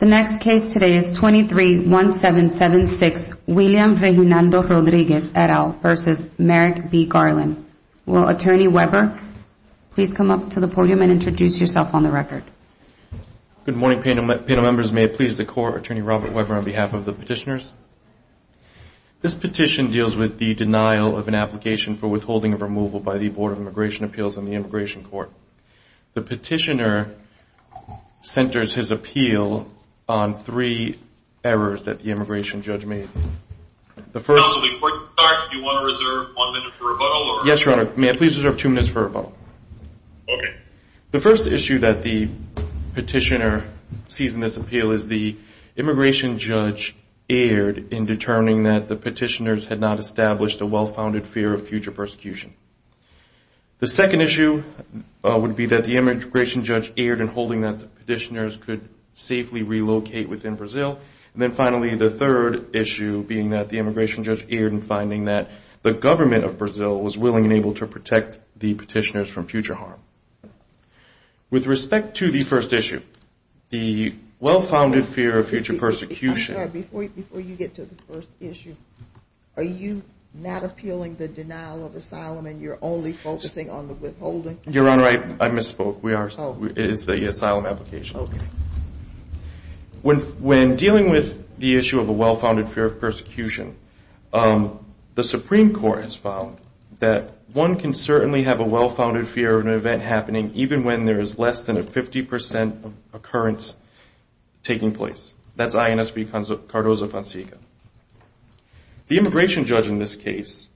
The next case today is 23-1776 William Reginaldo Rodriguez et al. v. Merrick B. Garland. Will Attorney Weber please come up to the podium and introduce yourself on the record? Good morning panel members. May it please the Court, Attorney Robert Weber on behalf of the petitioners. This petition deals with the denial of an application for withholding of removal by the Board of Immigration Appeals and the Immigration Court. The petitioner centers his appeal on three errors that the immigration judge made. The first issue that the petitioner sees in this appeal is the immigration judge erred in determining that the petitioners had not established a well-founded fear of future persecution. The second issue would be that the immigration judge erred in holding that the petitioners could safely relocate within Brazil. And then finally, the third issue being that the immigration judge erred in finding that the government of Brazil was willing and able to protect the petitioners from future harm. With respect to the first issue, the well-founded fear of future persecution... I'm sorry, before you get to the first issue, are you not appealing the denial of asylum and you're only focusing on the withholding? Your Honor, I misspoke. It is the asylum application. When dealing with the issue of a well-founded fear of persecution, the Supreme Court has found that one can certainly have a well-founded fear of an event happening even when there is less than a 50 percent occurrence taking place. That's INSB Cardozo-Fonseca. The immigration judge in this case,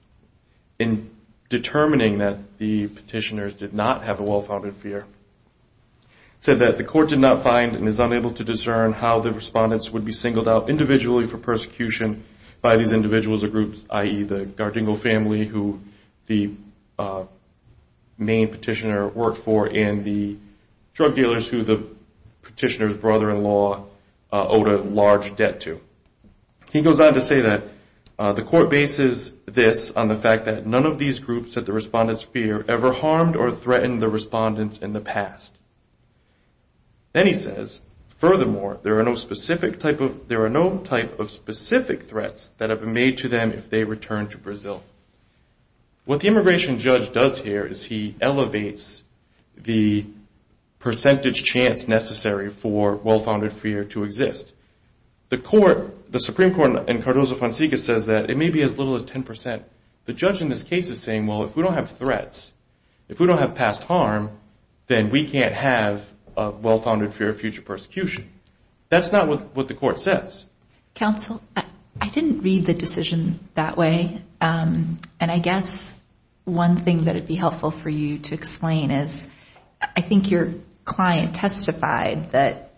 in determining that the petitioners did not have a well-founded fear, said that the court did not find and is unable to discern how the respondents would be singled out individually for persecution by these individuals or groups, i.e., the Gardingo family, who the main petitioner worked for, and the drug dealers who the petitioner's He goes on to say that the court bases this on the fact that none of these groups that the respondents fear ever harmed or threatened the respondents in the past. Then he says, furthermore, there are no type of specific threats that have been made to them if they return to Brazil. What the immigration judge does here is he elevates the percentage chance necessary for well-founded fear to exist. The Supreme Court in Cardozo-Fonseca says that it may be as little as 10 percent. The judge in this case is saying, well, if we don't have threats, if we don't have past harm, then we can't have a well-founded fear of future persecution. That's not what the court says. Counsel, I didn't read the decision that way, and I guess one thing that would be helpful for you to explain is, I think your client testified that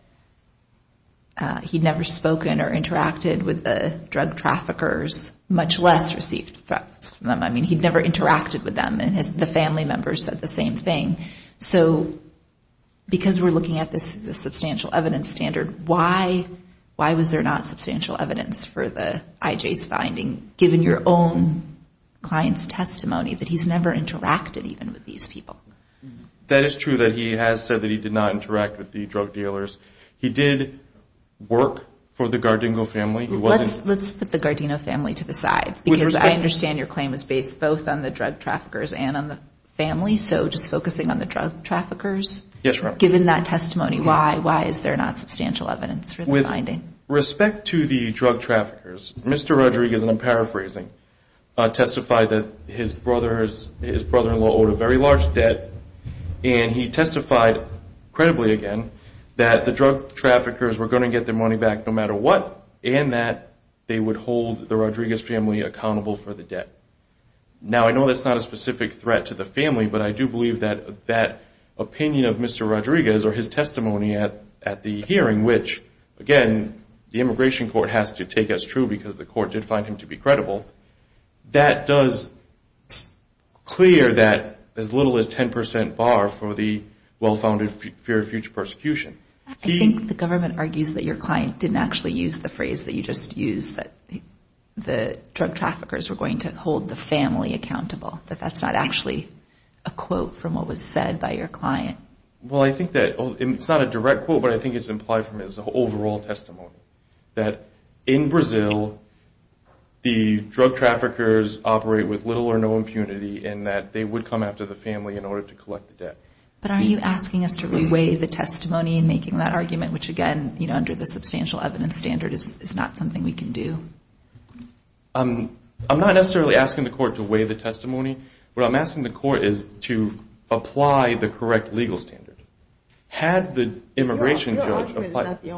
he did not have a well-founded fear of future persecution. He'd never spoken or interacted with the drug traffickers, much less received threats from them. I mean, he'd never interacted with them, and the family members said the same thing. So because we're looking at this substantial evidence standard, why was there not substantial evidence for the IJ's finding, given your own client's testimony, that he's never interacted even with these people? That is true that he has said that he did not interact with the drug dealers. He did work for the Gardino family. Let's put the Gardino family to the side, because I understand your claim is based both on the drug traffickers and on the family. So just focusing on the drug traffickers, given that testimony, why is there not substantial evidence for the finding? With respect to the drug traffickers, Mr. Rodriguez, and I'm paraphrasing, testified that his brother-in-law owed a very large debt, and he testified, credibly again, that the drug traffickers were going to get their money back no matter what, and that they would hold the Rodriguez family accountable for the debt. Now, I know that's not a specific threat to the family, but I do believe that that opinion of Mr. Rodriguez or his testimony at the hearing, which again, the immigration court has to take as true because the court did find him to be credible, that does clear that as little as 10% bar for the well-founded fear of future persecution. I think the government argues that your client didn't actually use the phrase that you just used, that the drug that was paid by your client. Well, I think that it's not a direct quote, but I think it's implied from his overall testimony that in Brazil, the drug traffickers operate with little or no impunity in that they would come after the family in order to collect the debt. But are you asking us to weigh the testimony in making that argument, which again, under the substantial evidence test, is not really the correct legal standard? Your argument is not the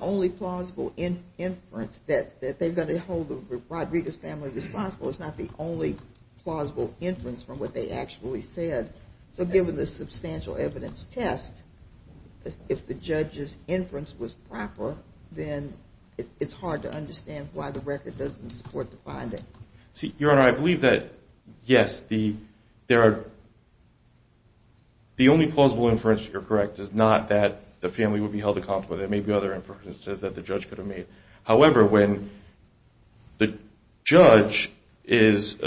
only plausible inference that they're going to hold the Rodriguez family responsible. It's not the only plausible inference from what they actually said. So given the substantial evidence test, if the judge's inference was proper, then it's hard to understand why the record doesn't support the finding. Your Honor, I believe that, yes, the only plausible inference you're correct is not that the family would be held accountable. There may be other inferences that the judge could have made. However, when the judge is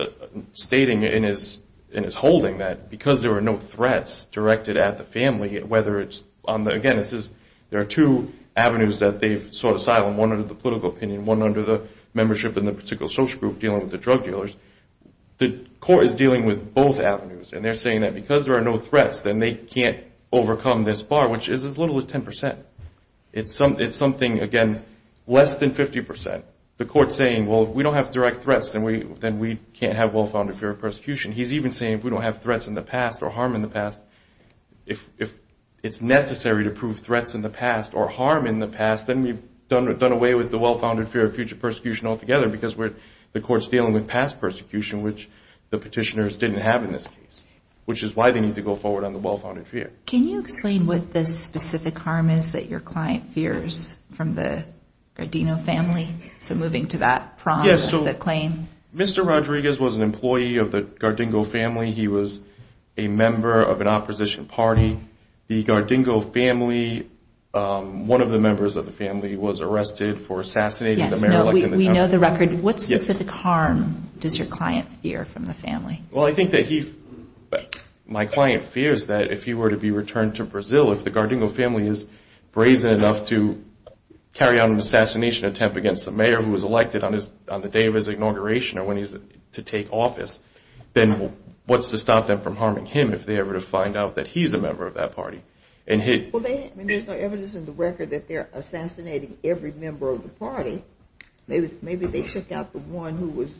stating and is holding that, because there were no threats directed at the family, whether it's on the, again, there are two avenues that they've sought asylum, one under the political opinion, one under the particular social group dealing with the drug dealers, the court is dealing with both avenues. And they're saying that because there are no threats, then they can't overcome this bar, which is as little as 10%. It's something, again, less than 50%. The court's saying, well, if we don't have direct threats, then we can't have well-founded fear of persecution. He's even saying if we don't have threats in the past or harm in the past, if it's necessary to prove threats in the past or harm in the past, then we've done away with the well-founded fear of future persecution altogether because the court's dealing with past persecution, which the petitioners didn't have in this case, which is why they need to go forward on the well-founded fear. Can you explain what this specific harm is that your client fears from the Gardino family? So moving to that prong of the claim. Mr. Rodriguez was an employee of the Gardino family. He was a member of an opposition party. The Gardino family, one of the members of the family was arrested for assassinating the mayor. We know the record. What specific harm does your client fear from the family? Well, I think that my client fears that if he were to be returned to Brazil, if the Gardino family is brazen enough to carry out an assassination attempt against the mayor who was elected on the day of his inauguration or when he's to take office, then what's to stop them from harming him if they ever find out that he's a member of that party? Well, there's no evidence in the record that they're assassinating every member of the party. Maybe they took out the one who was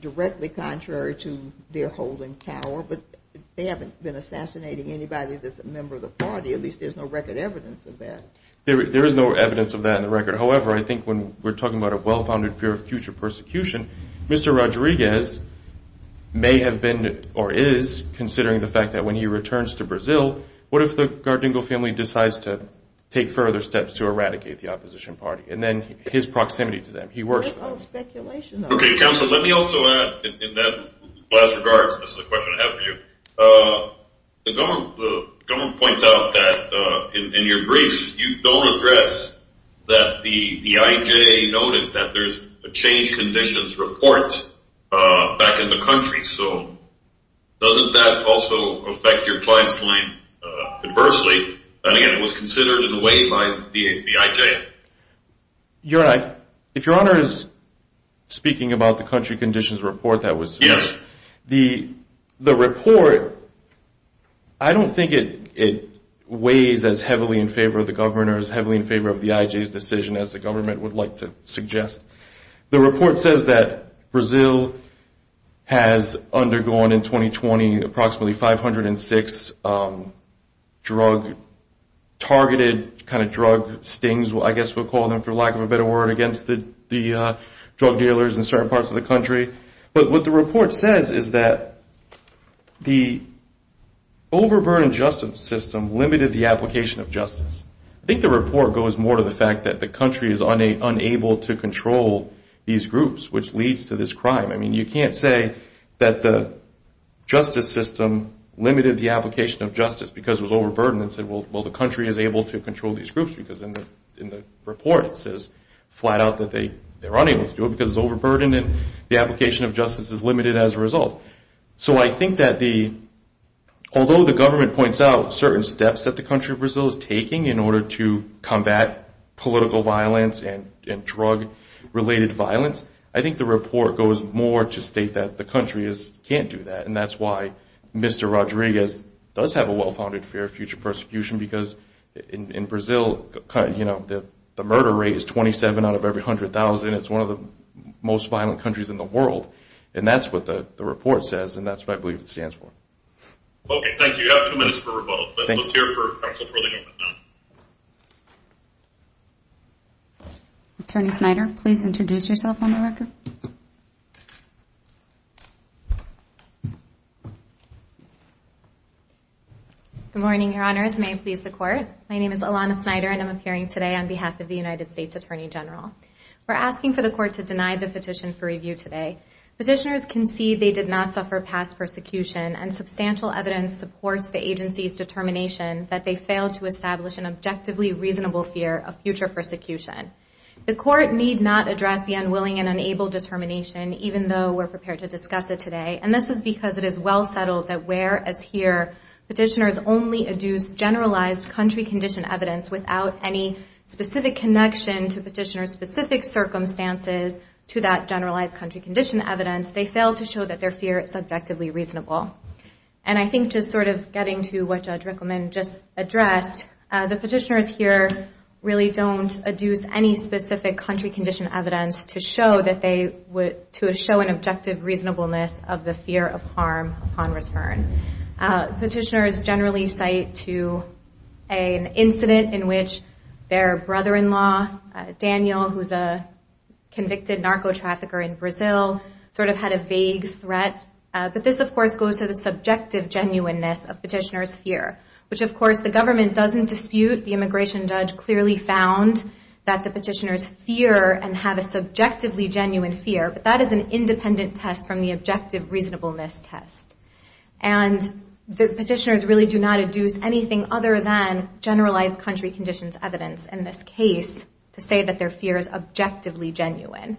directly contrary to their holding power. But they haven't been assassinating anybody that's a member of the party. At least there's no record evidence of that. There is no evidence of that in the record. However, I think when we're talking about a well-founded fear of future persecution, Mr. Rodriguez may have been or is considering the possibility of a possible assassination attempt against him. Your Honor, if Your Honor is speaking about the country conditions report that was submitted, the report, I don't think it weighs as heavily in favor of the governor, as heavily in favor of the IJ's decision as the government would like to suggest. The report says that Brazil has undergone in 2020 approximately 506 drug-targeted, kind of drug stings, which are I guess we'll call them for lack of a better word, against the drug dealers in certain parts of the country. But what the report says is that the overburdened justice system limited the application of justice. I think the report goes more to the fact that the country is unable to control these groups, which leads to this crime. I mean, you can't say that the justice system limited the application of justice because it was overburdened and said, well, the report says flat out that they're unable to do it because it's overburdened and the application of justice is limited as a result. So I think that although the government points out certain steps that the country of Brazil is taking in order to combat political violence and drug-related violence, I think the report goes more to state that the country can't do that. And that's why Mr. Rodriguez does have a well-founded fear of future persecution, because in Brazil, you know, the murder rate is 27 out of every 100,000. It's one of the most violent countries in the world. And that's what the report says, and that's what I believe it stands for. Attorney Snyder, please introduce yourself on the record. Good morning, Your Honors. May it please the Court. My name is Alana Snyder, and I'm appearing today on behalf of the United States Attorney General. We're asking for the Court to deny the petition for review today. Petitioners concede they did not suffer past persecution, and substantial evidence supports the agency's determination that they failed to establish an objectively reasonable fear of future persecution. The Court need not address the unwilling and unable determination, even though we're prepared to discuss it today. And this is because it is well settled that whereas here petitioners only adduce generalized country condition evidence without any specific connection to petitioners' specific circumstances to that generalized country condition evidence, they failed to show that their fear is objectively reasonable. And I think just sort of getting to what Judge Rickleman just addressed, the petitioners here really don't adduce any specific country condition evidence to show an objective reasonableness of the fear of harm upon return. Petitioners generally cite to an incident in which their brother-in-law, Daniel, who's a convicted narco-trafficker in Brazil, sort of had a vague threat, but this of course goes to the subjective genuineness of petitioners' fear, which of course the government doesn't dispute. The immigration judge clearly found that the petitioners fear and have a subjectively genuine fear, but that is an independent test from the objective reasonableness test. And the petitioners really do not adduce anything other than generalized country conditions evidence in this case to say that their fear is subjectively genuine.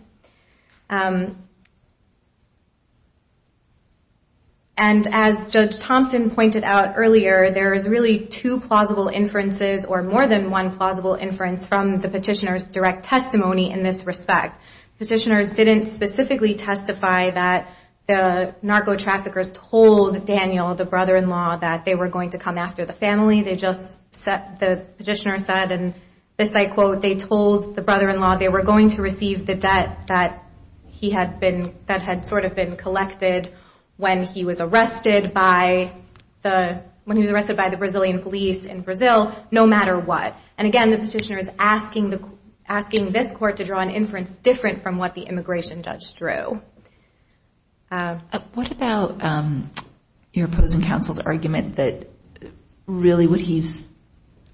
And as Judge Thompson pointed out earlier, there is really two plausible inferences or more than one plausible inference from the petitioners' direct testimony in this respect. Petitioners didn't specifically testify that the narco-traffickers told Daniel, the brother-in-law, that they were going to come after the family. They just said, the petitioner said, and this I quote, they told the brother-in-law they were going to receive the debt that he had been, that had sort of been collected when he was arrested by the Brazilian police in Brazil, no matter what. And again, the petitioner is asking this court to draw an inference different from what the immigration judge drew. What about your opposing counsel's argument that really what he's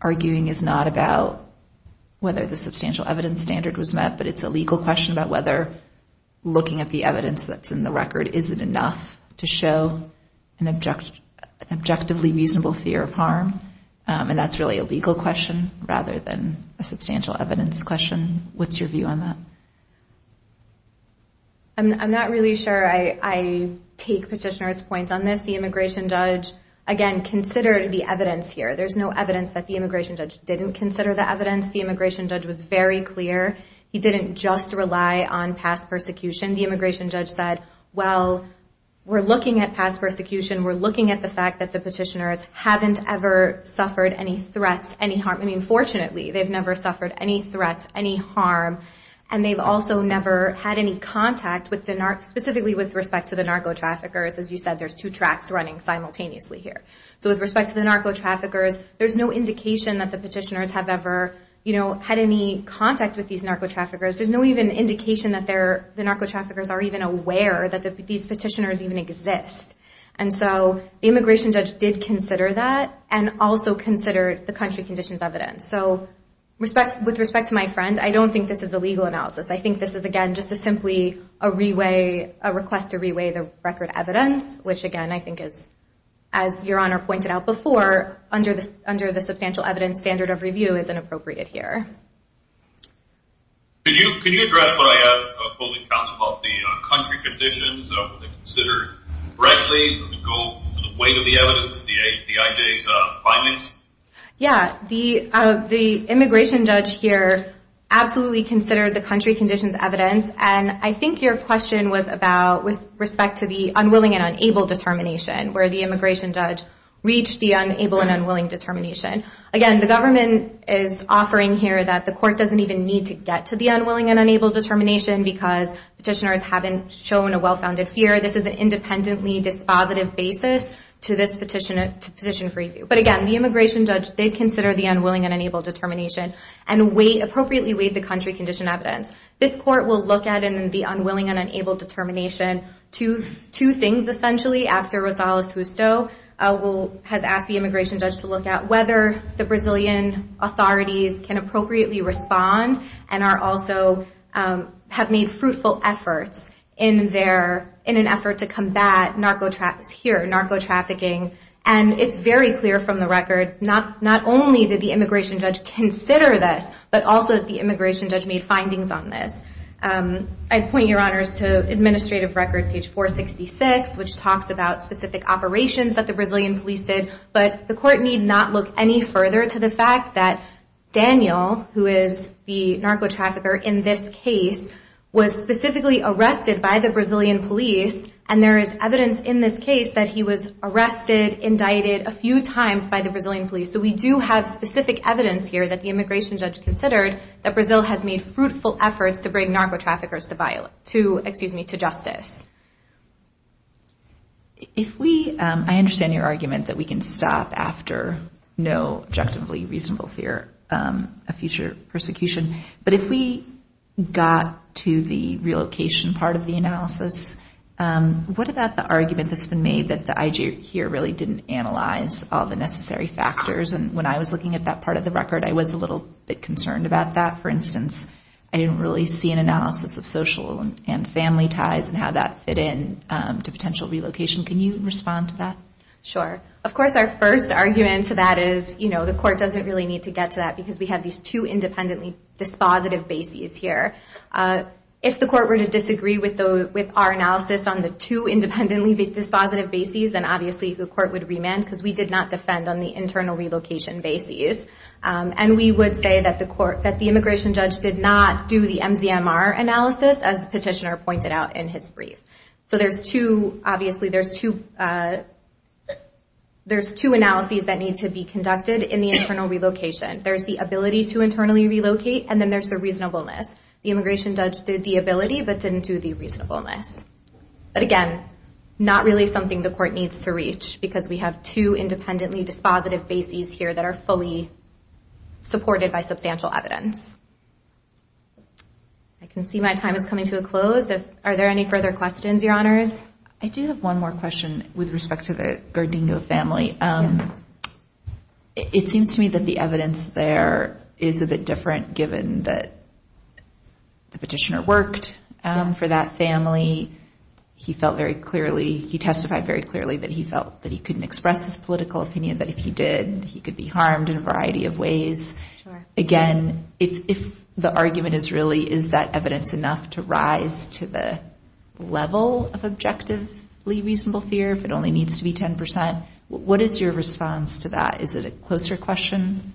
arguing is not about whether the substantial evidence standard was met, but it's a legal question about whether looking at the evidence that's in the record, is it enough to show an objectively reasonable fear of harm, and that's really a legal question rather than a substantial evidence question? What's your view on that? I'm not really sure I take petitioners' point on this. The immigration judge, again, considered the evidence here. There's no evidence that the immigration judge didn't consider the evidence. The immigration judge was very clear. He didn't just rely on past persecution. The immigration judge said, well, we're looking at past persecution. We're looking at the fact that the petitioners haven't ever suffered any threats, any harm. I mean, fortunately, they've never suffered any threats, any harm, and they've also never had any contact with the, specifically with respect to the narco traffickers. As you said, there's two tracks running simultaneously here. With respect to the narco traffickers, there's no indication that the petitioners have ever had any contact with these narco traffickers. There's no even indication that the narco traffickers are even aware that these petitioners even exist. The immigration judge did consider that and also considered the country conditions evidence. With respect to my friend, I don't think this is a legal analysis. I think this is, again, just simply a request to re-weigh the record evidence, which, again, I think is, as Your Honor pointed out before, under the substantial evidence standard of review is inappropriate here. Can you address what I asked the holding counsel about the country conditions? Were they considered correctly? Did they go to the weight of the evidence, the IJ's findings? Yeah, the immigration judge here absolutely considered the country conditions evidence. I think your question was about, with respect to the unwilling and unable determination, where the immigration judge reached the unable and unwilling determination. Again, the government is offering here that the court doesn't even need to get to the unwilling and unable determination because petitioners haven't shown a well-founded fear. This is an independently dispositive basis to this petition for review. Again, the immigration judge did consider the unwilling and unable determination and appropriately weighed the country condition evidence. This court will look at the unwilling and unable determination. Two things, essentially, after Rosales Justo has asked the immigration judge to look at whether the Brazilian authorities can appropriately respond and also have made fruitful efforts in an effort to combat narco-trafficking. It's very clear from the record, not only did the immigration judge consider this, but also that the immigration judge made findings on this. I point your honors to administrative record, page 466, which talks about specific operations that the Brazilian police did. The court need not look any further to the fact that Daniel, who is the narco-trafficker in this case, was specifically arrested by the Brazilian police. There is evidence in this case that he was arrested and indicted a few times by the Brazilian police. We do have specific evidence here that the immigration judge considered that Brazil has made fruitful efforts to bring narco-traffickers to justice. I understand your argument that we can stop after no objectively reasonable fear of future persecution. But if we got to the relocation part of the analysis, what about the argument that's been made that the IG here really didn't analyze all the necessary factors, and when I was looking at that part of the record, I was a little bit concerned about that. For instance, I didn't really see an analysis of social and family ties and how that fit in to potential relocation. Can you respond to that? Sure. Of course, our first argument to that is the court doesn't really need to get to that because we have these two independently dispositive bases here. If the court were to disagree with our analysis on the two independently dispositive bases, then obviously the court would remand because we did not defend on the internal relocation bases. And we would say that the immigration judge did not do the MZMR analysis, as the petitioner pointed out in his brief. There's two analyses that need to be conducted in the internal relocation. There's the ability to internally relocate, and then there's the reasonableness. The immigration judge did the ability but didn't do the reasonableness. But again, not really something the court needs to reach because we have two independently dispositive bases here that are fully supported by substantial evidence. I can see my time is coming to a close. Are there any further questions, Your Honors? I do have one more question with respect to the Gardingo family. It seems to me that the evidence there is a bit different given that the petitioner worked for that family. He testified very clearly that he felt that he couldn't express his political opinion, that if he did, he could be harmed in a variety of ways. Again, if the argument is really is that evidence enough to rise to the level of objectively reasonable fear, if it only needs to be 10 percent, what is your response to that? Is it a closer question?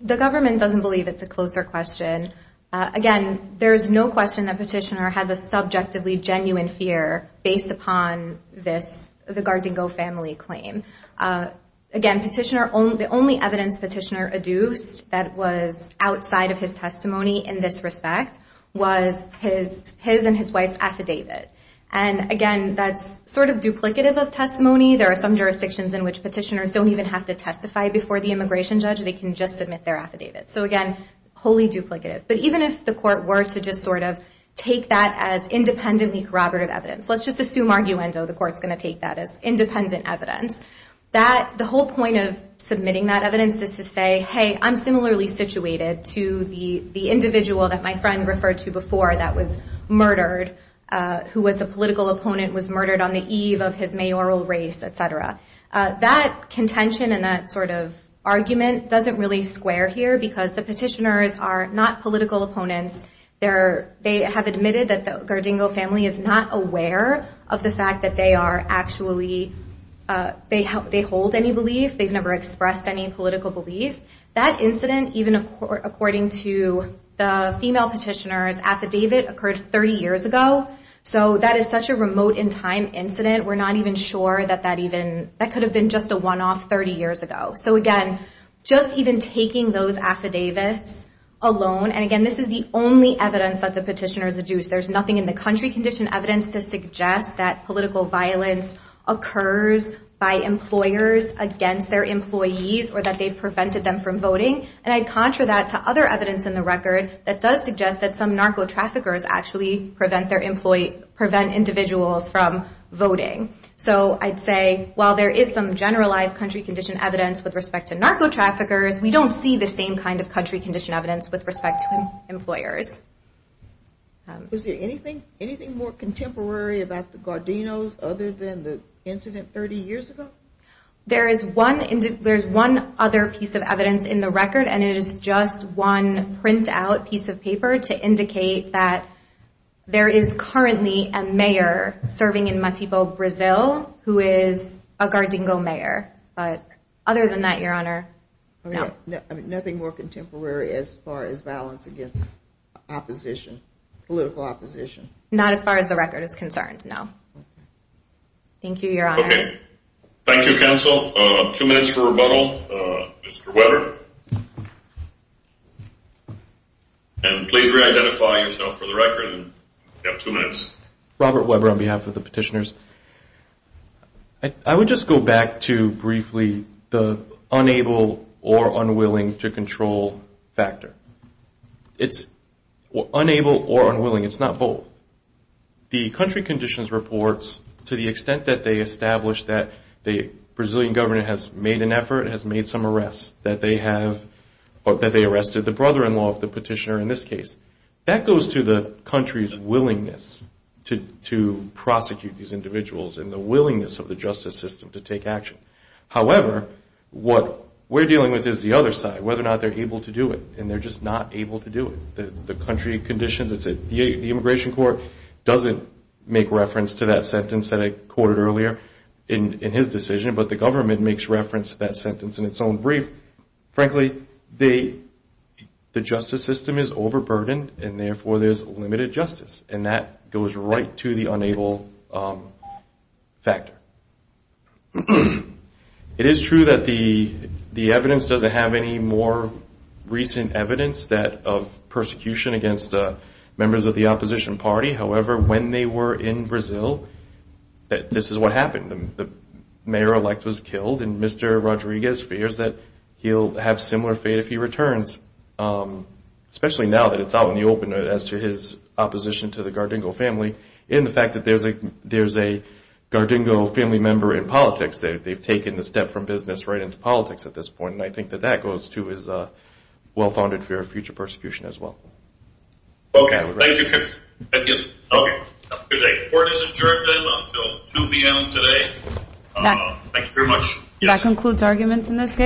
The government doesn't believe it's a closer question. Again, there's no question that petitioner has a subjectively genuine fear based upon the Gardingo family claim. Again, the only evidence petitioner adduced that was outside of his testimony in this respect was his and his wife's affidavit. And again, that's sort of duplicative of testimony. There are some jurisdictions in which petitioners don't even have to testify before the immigration judge. They can just submit their affidavit. So again, wholly duplicative. But even if the court were to just sort of take that as independently corroborative evidence, let's just assume arguendo the court's going to take that as independent evidence, that the whole point of submitting that evidence is to say, hey, I'm similarly situated to the individual that my friend referred to before that was murdered, who was a political opponent, was So that sort of argument doesn't really square here, because the petitioners are not political opponents. They have admitted that the Gardingo family is not aware of the fact that they are actually, they hold any belief, they've never expressed any political belief. That incident, even according to the female petitioners, affidavit occurred 30 years ago. So that is such a So again, just even taking those affidavits alone, and again, this is the only evidence that the petitioners deduce. There's nothing in the country condition evidence to suggest that political violence occurs by employers against their employees or that they've prevented them from voting. And I'd contra that to other evidence in the record that does suggest that some narco-traffickers actually prevent individuals from voting. So I'd say, while there is some generalized country condition evidence with respect to narco-traffickers, we don't see the same kind of country condition evidence with respect to employers. Was there anything more contemporary about the Gardinos other than the incident 30 years ago? There is one other piece of evidence in the record, and it is just one print-out piece of paper to indicate that there is currently a mayor serving in Matipo, Brazil, who is a Gardingo mayor. But that is not the case. Other than that, Your Honor, no. Nothing more contemporary as far as violence against opposition, political opposition? Not as far as the record is concerned, no. Thank you, Your Honors. Thank you, Counsel. Two minutes for rebuttal. Mr. Weber. And please re-identify yourself for the record. You have two minutes. Robert Weber on behalf of the petitioners. I would just go back to briefly the unable or unwilling to control factor. It's unable or unwilling. It's not both. The country conditions reports, to the extent that they establish that the Brazilian government has made an effort, has made some arrests, that they arrested the brother-in-law of the petitioner in this case. That goes to the country's willingness to prosecute these individuals and the willingness of the justice system to take action. However, what we're dealing with is the other side, whether or not they're able to do it, and they're just not able to do it. The country conditions, the immigration court doesn't make reference to that sentence that I quoted earlier in his decision, but the government makes reference to that sentence in its own brief. Frankly, the justice system is overburdened, and therefore there's limited justice. And that goes right to the unable factor. It is true that the evidence doesn't have any more recent evidence of persecution against members of the opposition party. However, when they were in Brazil, this is what happened. The mayor-elect was killed, and Mr. Rodriguez fears that he'll have similar fate if he returns, especially now that it's out in the open, as to his opposition to the Gardingo family, and the fact that there's a Gardingo family member in politics. They've taken the step from business right into politics at this point, and I think that that goes to his well-founded fear of future The court is adjourned until 2pm today. Thank you very much.